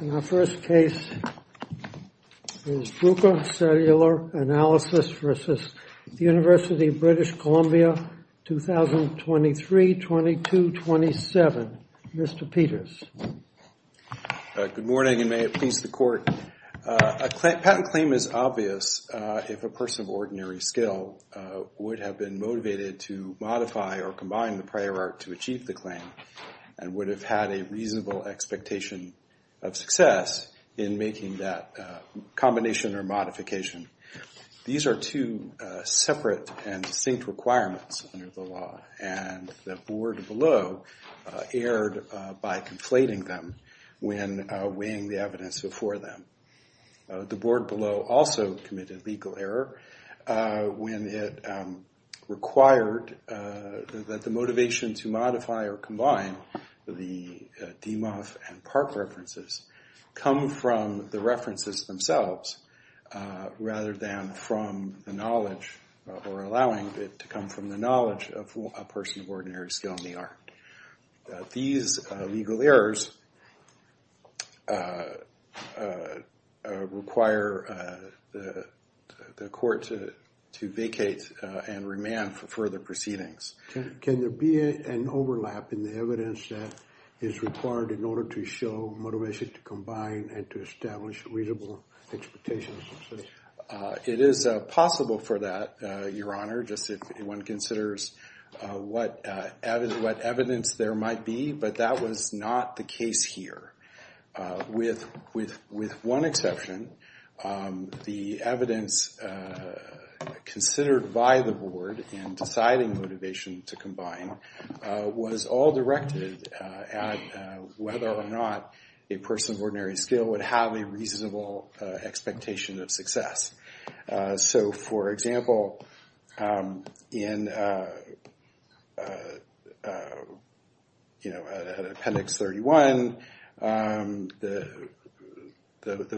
In our first case is Bruker Cellular Analysis v. University of British Columbia, 2023-22-27. Mr. Peters. Good morning and may it please the Court. A patent claim is obvious if a person of ordinary skill would have been motivated to modify or combine the prior art to achieve the claim and would have had a reasonable expectation of success in making that combination or modification. These are two separate and distinct requirements under the law, and the board below erred by conflating them when weighing the evidence before them. The board below also committed legal error when it required that the motivation to modify or combine the DeMoff and Park references come from the references themselves rather than from the knowledge or allowing it to come from the knowledge of a person of ordinary skill in the art. These legal errors require the court to vacate and remand for further proceedings. Can there be an overlap in the evidence that is required in order to show motivation to combine and to establish reasonable expectations? It is possible for that, Your Honor, just if one considers what evidence there might be, but that was not the case here. With one exception, the evidence considered by the board in deciding motivation to combine was all directed at whether or not a person of ordinary skill would have a reasonable expectation of success. For example, in Appendix 31, the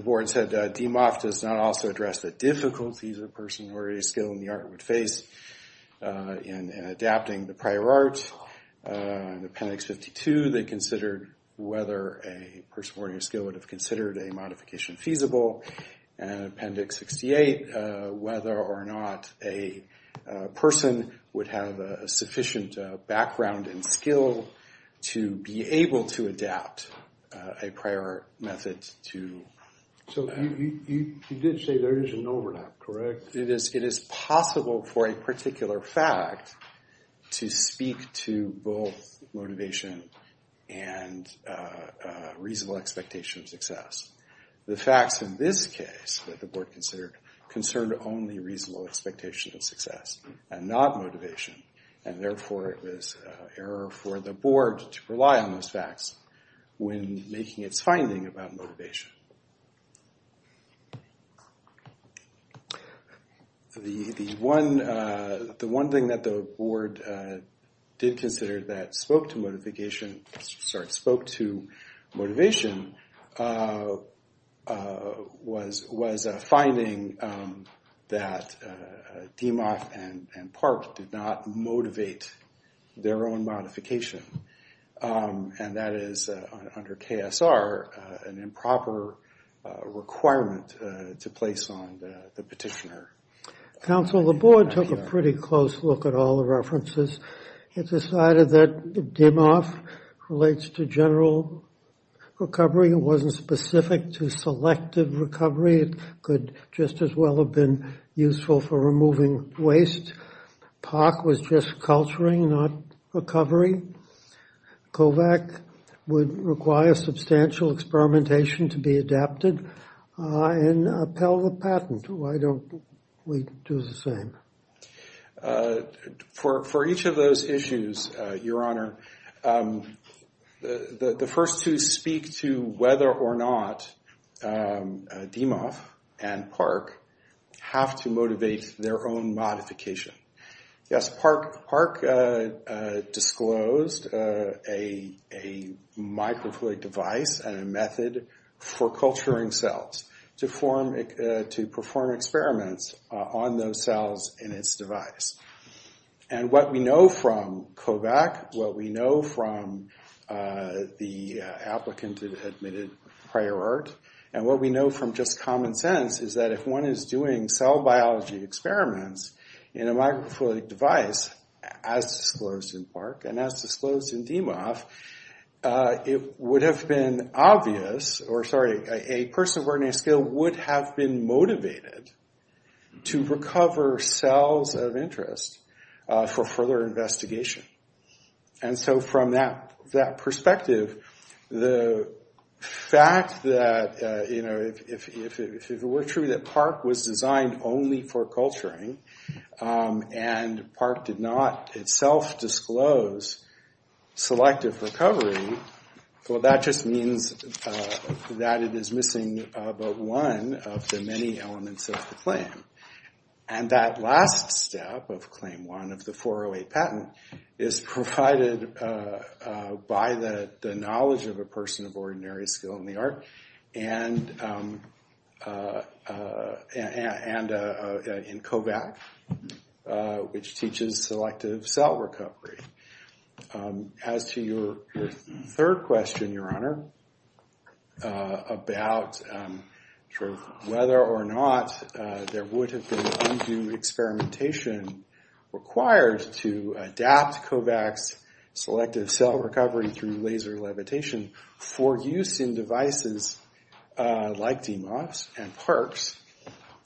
board said, DeMoff does not also address the difficulties a person of ordinary skill in the art would face in adapting the prior art. In Appendix 52, they considered whether a person of ordinary skill would have considered a modification feasible. In Appendix 68, whether or not a person would have a sufficient background and skill to be able to adapt a prior art method to... So you did say there is an overlap, correct? It is possible for a particular fact to speak to both motivation and reasonable expectation of success. The facts in this case that the board considered concerned only reasonable expectation of success and not motivation, and therefore it was error for the board to rely on those facts when making its finding about motivation. The one thing that the board did consider that spoke to motivation was a finding that DeMoff and Park did not motivate their own modification. And that is, under KSR, an improper requirement to place on the petitioner. Counsel, the board took a pretty close look at all the references. It decided that DeMoff relates to general recovery. It wasn't specific to selective recovery. It could just as well have been useful for removing waste. Park was just culturing, not recovery. Kovac would require substantial experimentation to be adapted. And Pell, the patent, why don't we do the same? For each of those issues, Your Honor, the first two speak to whether or not DeMoff and Park have to motivate their own modification. Yes, Park disclosed a microfluidic device and a method for culturing cells to perform experiments on those cells in its device. And what we know from Kovac, what we know from the applicant that admitted prior art, and what we know from just common sense is that if one is doing cell biology experiments in a microfluidic device, as disclosed in Park and as disclosed in DeMoff, it would have been obvious, or sorry, a person of ordinary skill would have been motivated to recover cells of interest for further investigation. And so from that perspective, the fact that if it were true that Park was designed only for culturing and Park did not itself disclose selective recovery, well that just means that it is missing but one of the many elements of the claim. And that last step of Claim 1 of the 408 patent is provided by the knowledge of a person of ordinary skill in the art and in Kovac, which teaches selective cell recovery. As to your third question, your honor, about whether or not there would have been undue experimentation required to adapt Kovac's selective cell recovery through laser levitation for use in devices like DeMoff's and Park's,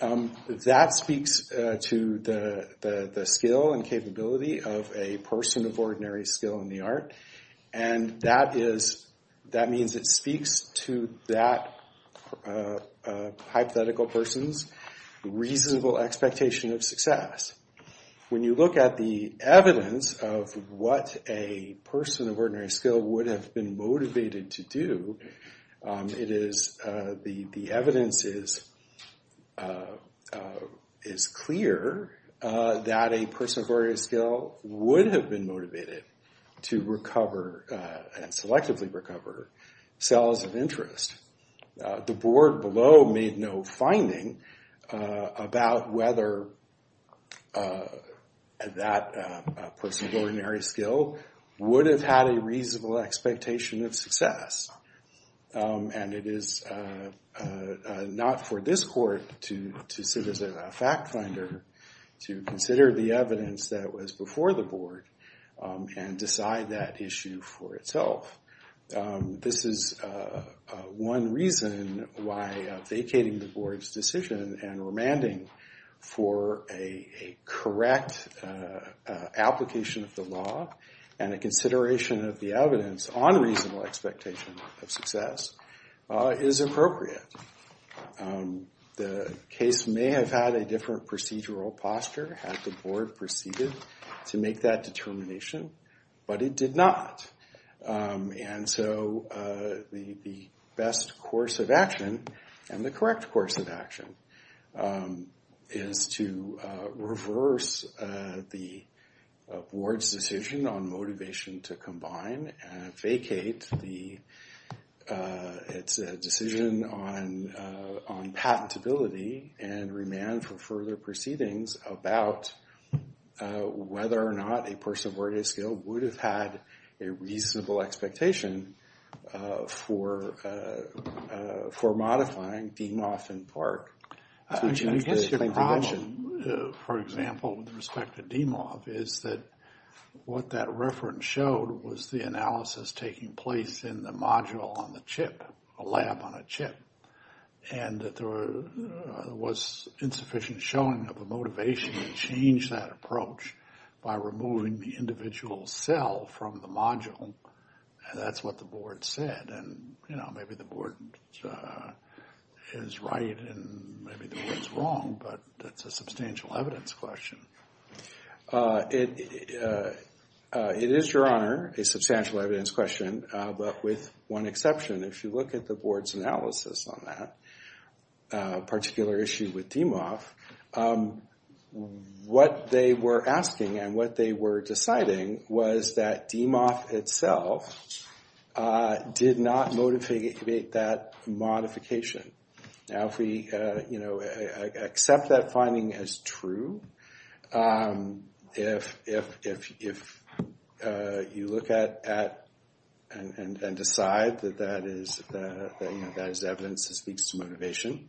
that speaks to the skill and capability of a person of ordinary skill in the art, and that means it speaks to that hypothetical person's reasonable expectation of success. When you look at the evidence of what a person of ordinary skill would have been motivated to do, the evidence is clear that a person of ordinary skill would have been motivated to recover and selectively recover cells of interest. The board below made no finding about whether that person of ordinary skill would have had a reasonable expectation of success and it is not for this court to sit as a fact finder to consider the evidence that was before the board and decide that issue for itself. This is one reason why vacating the board's decision and remanding for a correct application of the law and a consideration of the evidence on reasonable expectation of success is appropriate. The case may have had a different procedural posture had the board proceeded to make that determination, but it did not, and so the best course of action and the correct course of action is to reverse the board's decision on motivation to combine and vacate its decision on patentability and remand for further proceedings about whether or not a person of ordinary skill would have had a reasonable expectation for modifying DMOF in part. I guess your problem, for example, with respect to DMOF is that what that reference showed was the analysis taking place in the module on the chip, a lab on a chip, and that there was insufficient showing of a motivation to change that approach by removing the individual cell from the module, and that's what the board said. And, you know, maybe the board is right and maybe the board is wrong, but that's a substantial evidence question. It is, Your Honor, a substantial evidence question, but with one exception. If you look at the board's analysis on that particular issue with DMOF, what they were asking and what they were deciding was that DMOF itself did not motivate that modification. Now, if we accept that finding as true, if you look at and decide that that is evidence that speaks to motivation,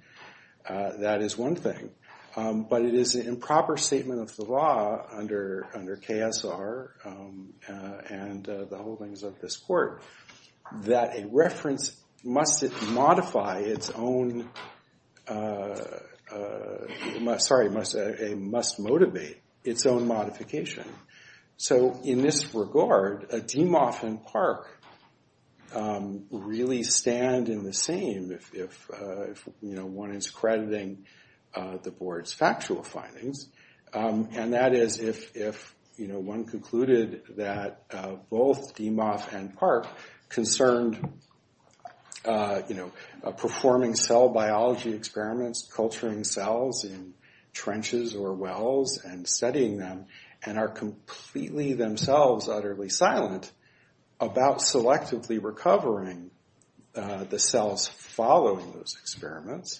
that is one thing, but it is an improper statement of the law under KSR and the holdings of this court that a reference must motivate its own modification. So in this regard, DMOF and PARC really stand in the same if one is crediting the board's factual findings, and that is if one concluded that both DMOF and PARC concerned performing cell biology experiments, culturing cells in trenches or wells and studying them, and are completely themselves utterly silent about selectively recovering the cells following those experiments,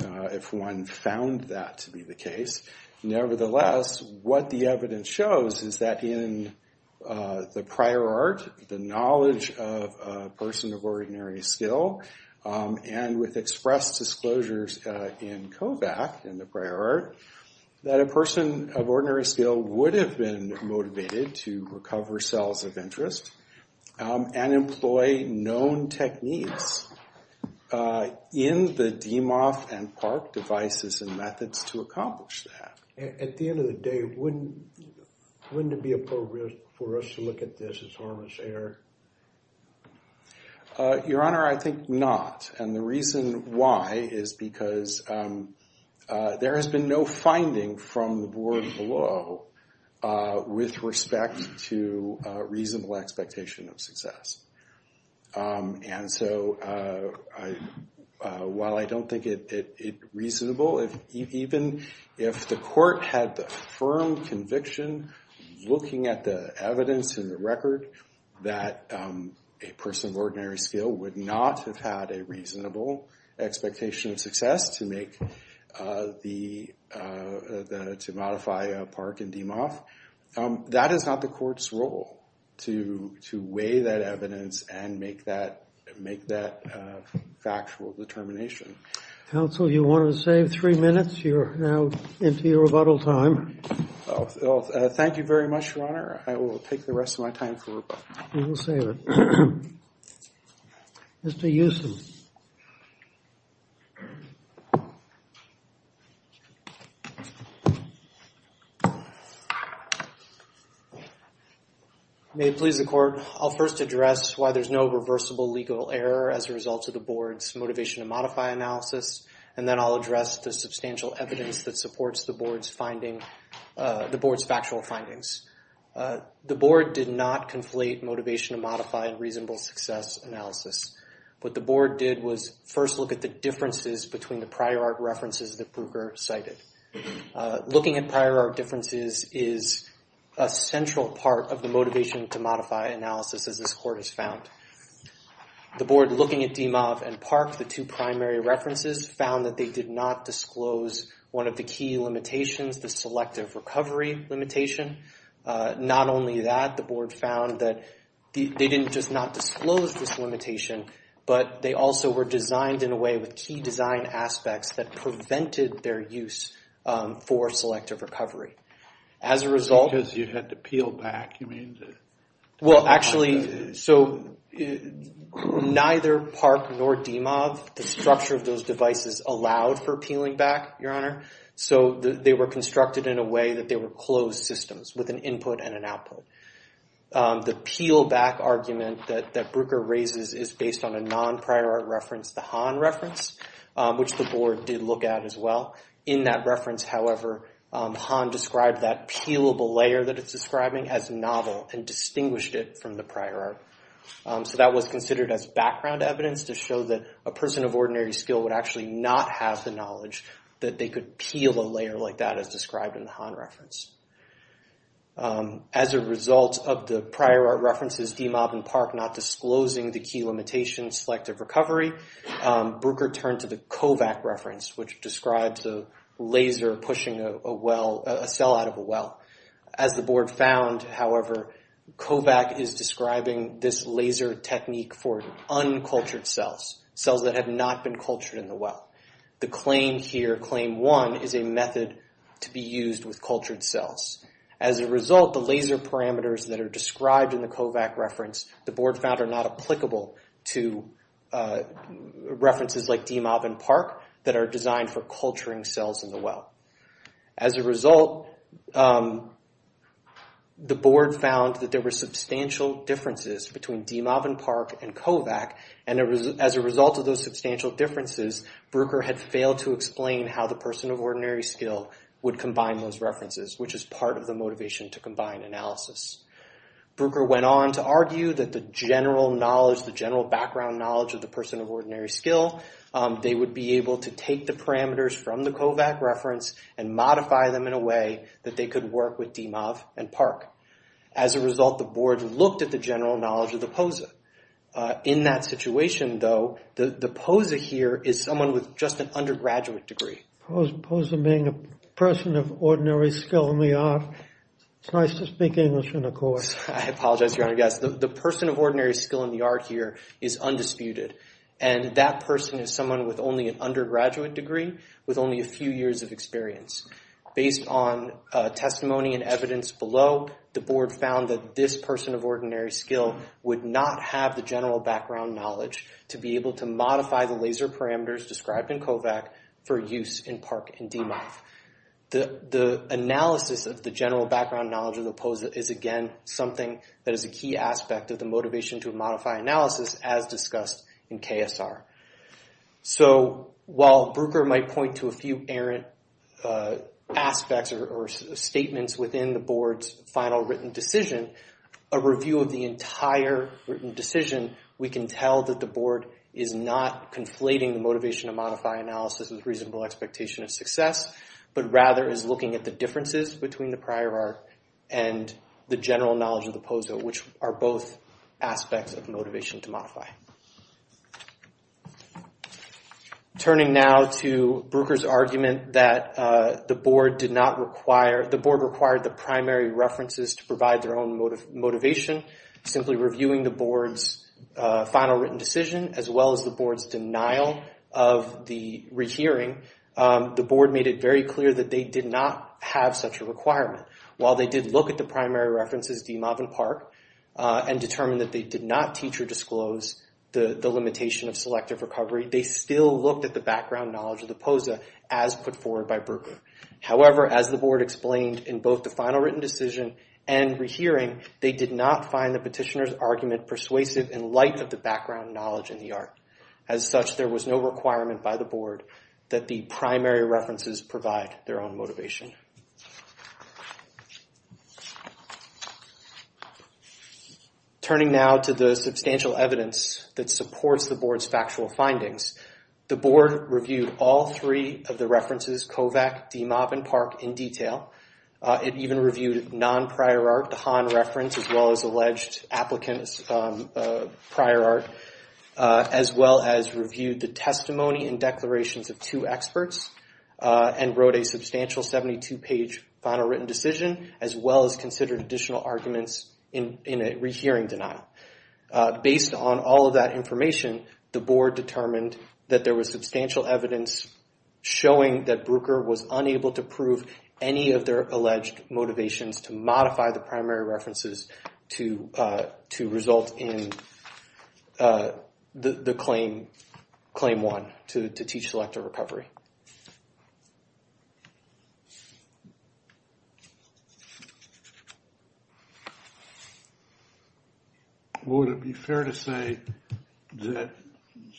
if one found that to be the case. Nevertheless, what the evidence shows is that in the prior art, the knowledge of a person of ordinary skill, and with expressed disclosures in COVAC in the prior art, that a person of ordinary skill would have been motivated to recover cells of interest and employ known techniques in the DMOF and PARC devices and methods to accomplish that. At the end of the day, wouldn't it be appropriate for us to look at this as harmless error? Your Honor, I think not. And the reason why is because there has been no finding from the board below with respect to reasonable expectation of success. And so while I don't think it reasonable, even if the court had the firm conviction looking at the evidence in the record that a person of ordinary skill would not have had a reasonable expectation of success to modify PARC and DMOF, that is not the court's role to weigh that evidence and make that factual determination. Counsel, you want to save three minutes? You're now into your rebuttal time. Thank you very much, Your Honor. I will take the rest of my time for rebuttal. You will save it. Mr. Euston. May it please the court. I'll first address why there's no reversible legal error as a result of the board's motivation to modify analysis, and then I'll address the substantial evidence that supports the board's finding, the board's factual findings. The board did not conflate motivation to modify and reasonable success analysis, but the board did was first look at the differences between the prior art references that Brugger cited. Looking at prior art differences is a central part of the motivation to modify analysis, as this court has found. The board, looking at DMOF and PARC, the two primary references, found that they did not disclose one of the key limitations, the selective recovery limitation. Not only that, the board found that they didn't just not disclose this limitation, but they also were designed in a way with key design aspects that prevented their use for selective recovery. As a result... Because you had to peel back, you mean? Well, actually, so neither PARC nor DMOF, the structure of those devices, allowed for peeling back, Your Honor. So they were constructed in a way that they were closed systems with an input and an output. The peel back argument that Brugger raises is based on a non-prior art reference, the Hahn reference, which the board did look at as well. In that reference, however, Hahn described that peelable layer that it's describing as novel and distinguished it from the prior art. So that was considered as background evidence to show that a person of ordinary skill would actually not have the knowledge that they could peel a layer like that as described in the Hahn reference. As a result of the prior art references, DMOF and PARC not disclosing the key limitations, selective recovery, Brugger turned to the Kovac reference, which describes a laser pushing a cell out of a well. As the board found, however, Kovac is describing this laser technique for uncultured cells, cells that have not been cultured in the well. The claim here, claim one, is a method to be used with cultured cells. As a result, the laser parameters that are described in the Kovac reference, the board found are not applicable to references like DMOF and PARC that are designed for culturing cells in the well. As a result, the board found that there were substantial differences between DMOF and PARC and Kovac, and as a result of those substantial differences, Brugger had failed to explain how the person of ordinary skill would combine those references, which is part of the motivation to combine analysis. Brugger went on to argue that the general knowledge, the general background knowledge of the person of ordinary skill, they would be able to take the parameters from the Kovac reference and modify them in a way that they could work with DMOF and PARC. As a result, the board looked at the general knowledge of the POSA. In that situation, though, the POSA here is someone with just an undergraduate degree. POSA being a person of ordinary skill in the art, it's nice to speak English in a court. I apologize, Your Honor. Yes, the person of ordinary skill in the art here is undisputed, and that person is someone with only an undergraduate degree with only a few years of experience. Based on testimony and evidence below, the board found that this person of ordinary skill would not have the general background knowledge to be able to modify the laser parameters described in Kovac for use in PARC and DMOF. The analysis of the general background knowledge of the POSA is, again, something that is a key aspect of the motivation to modify analysis as discussed in KSR. So while Bruker might point to a few errant aspects or statements within the board's final written decision, a review of the entire written decision, we can tell that the board is not conflating the motivation to modify analysis with reasonable expectation of success, but rather is looking at the differences between the prior art and the general knowledge of the POSA, which are both aspects of motivation to modify. Turning now to Bruker's argument that the board required the primary references to provide their own motivation, simply reviewing the board's final written decision as well as the board's denial of the rehearing, the board made it very clear that they did not have such a requirement. While they did look at the primary references DMOF and PARC and determined that they did not teach or disclose the limitation of selective recovery, they still looked at the background knowledge of the POSA as put forward by Bruker. However, as the board explained in both the final written decision and rehearing, they did not find the petitioner's argument persuasive in light of the background knowledge in the art. As such, there was no requirement by the board that the primary references provide their own motivation. Turning now to the substantial evidence that supports the board's factual findings, the board reviewed all three of the references, COVAC, DMOF, and PARC in detail. It even reviewed non-prior art, the Hahn reference, as well as alleged applicant's prior art, as well as reviewed the testimony and declarations of two experts and wrote a substantial 72-page final written decision, as well as considered additional arguments in a rehearing denial. Based on all of that information, the board determined that there was substantial evidence showing that Bruker was unable to prove any of their alleged motivations to modify the primary references to result in the claim one, to teach selective recovery. Would it be fair to say that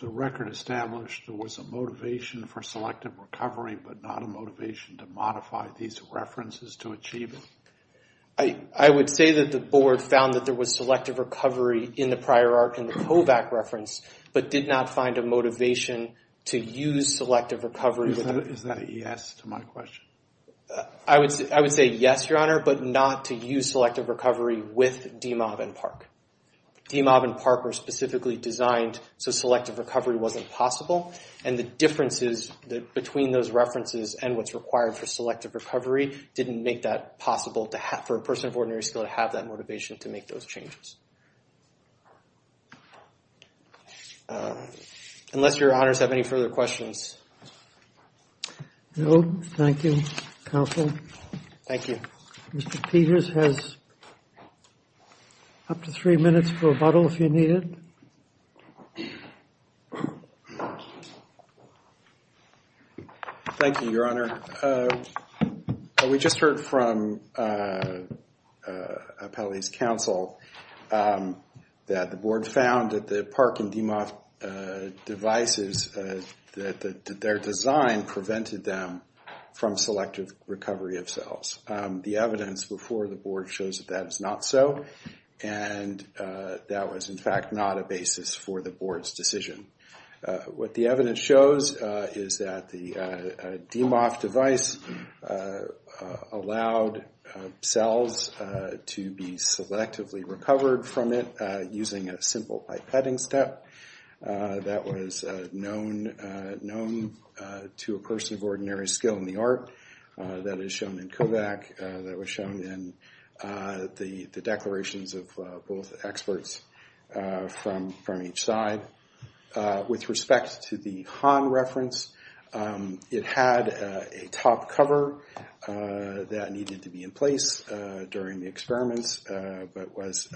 the record established there was a motivation for selective recovery, but not a motivation to modify these references to achieve it? I would say that the board found that there was selective recovery in the prior art in the COVAC reference, but did not find a motivation to use selective recovery. I would say yes, Your Honor, but not to use selective recovery with DMOF and PARC. DMOF and PARC were specifically designed so selective recovery wasn't possible, and the differences between those references and what's required for selective recovery didn't make that possible for a person of ordinary skill to have that motivation to make those changes. Unless Your Honors have any further questions. No, thank you, Counsel. Thank you. Mr. Peters has up to three minutes for rebuttal if you need it. Thank you, Your Honor. We just heard from Appellee's Counsel that the board found that the PARC and DMOF devices, that their design prevented them from selective recovery of cells. The evidence before the board shows that that is not so, and that was in fact not a basis for the board's decision. What the evidence shows is that the DMOF device allowed cells to be selectively recovered from it using a simple pipetting step. That was known to a person of ordinary skill in the art. That is shown in COVAC, that was shown in the declarations of both experts from each side. With respect to the Han reference, it had a top cover that needed to be in place during the experiments, but was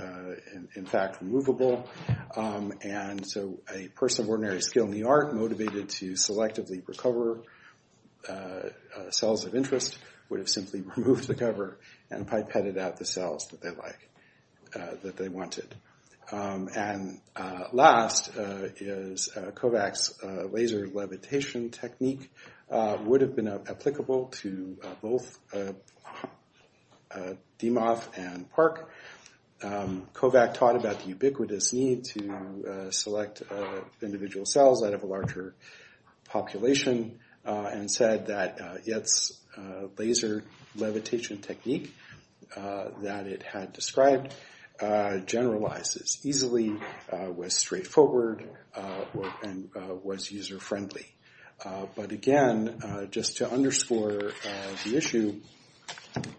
in fact removable. A person of ordinary skill in the art motivated to selectively recover cells of interest would have simply removed the cover and pipetted out the cells that they wanted. Last is COVAC's laser levitation technique would have been applicable to both DMOF and PARC. COVAC taught about the ubiquitous need to select individual cells out of a larger population, and said that its laser levitation technique that it had described generalizes easily, was straightforward, and was user-friendly. But again, just to underscore the issue,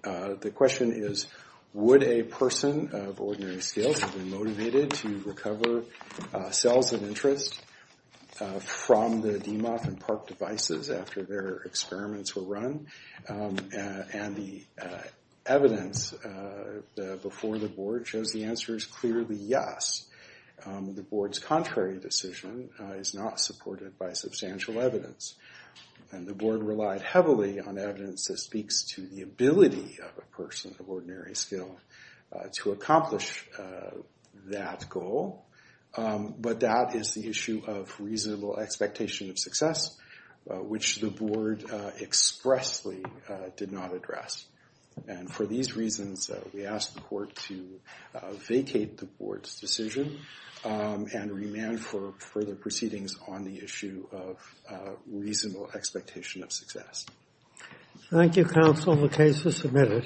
the question is, would a person of ordinary skill have been motivated to recover cells of interest from the DMOF and PARC devices after their experiments were run? The evidence before the board shows the answer is clearly yes. The board's contrary decision is not supported by substantial evidence. The board relied heavily on evidence that speaks to the ability of a person of ordinary skill to accomplish that goal. But that is the issue of reasonable expectation of success, which the board expressly did not address. For these reasons, we ask the court to vacate the board's decision, and remand for further proceedings on the issue of reasonable expectation of success. Thank you, counsel. The case is submitted.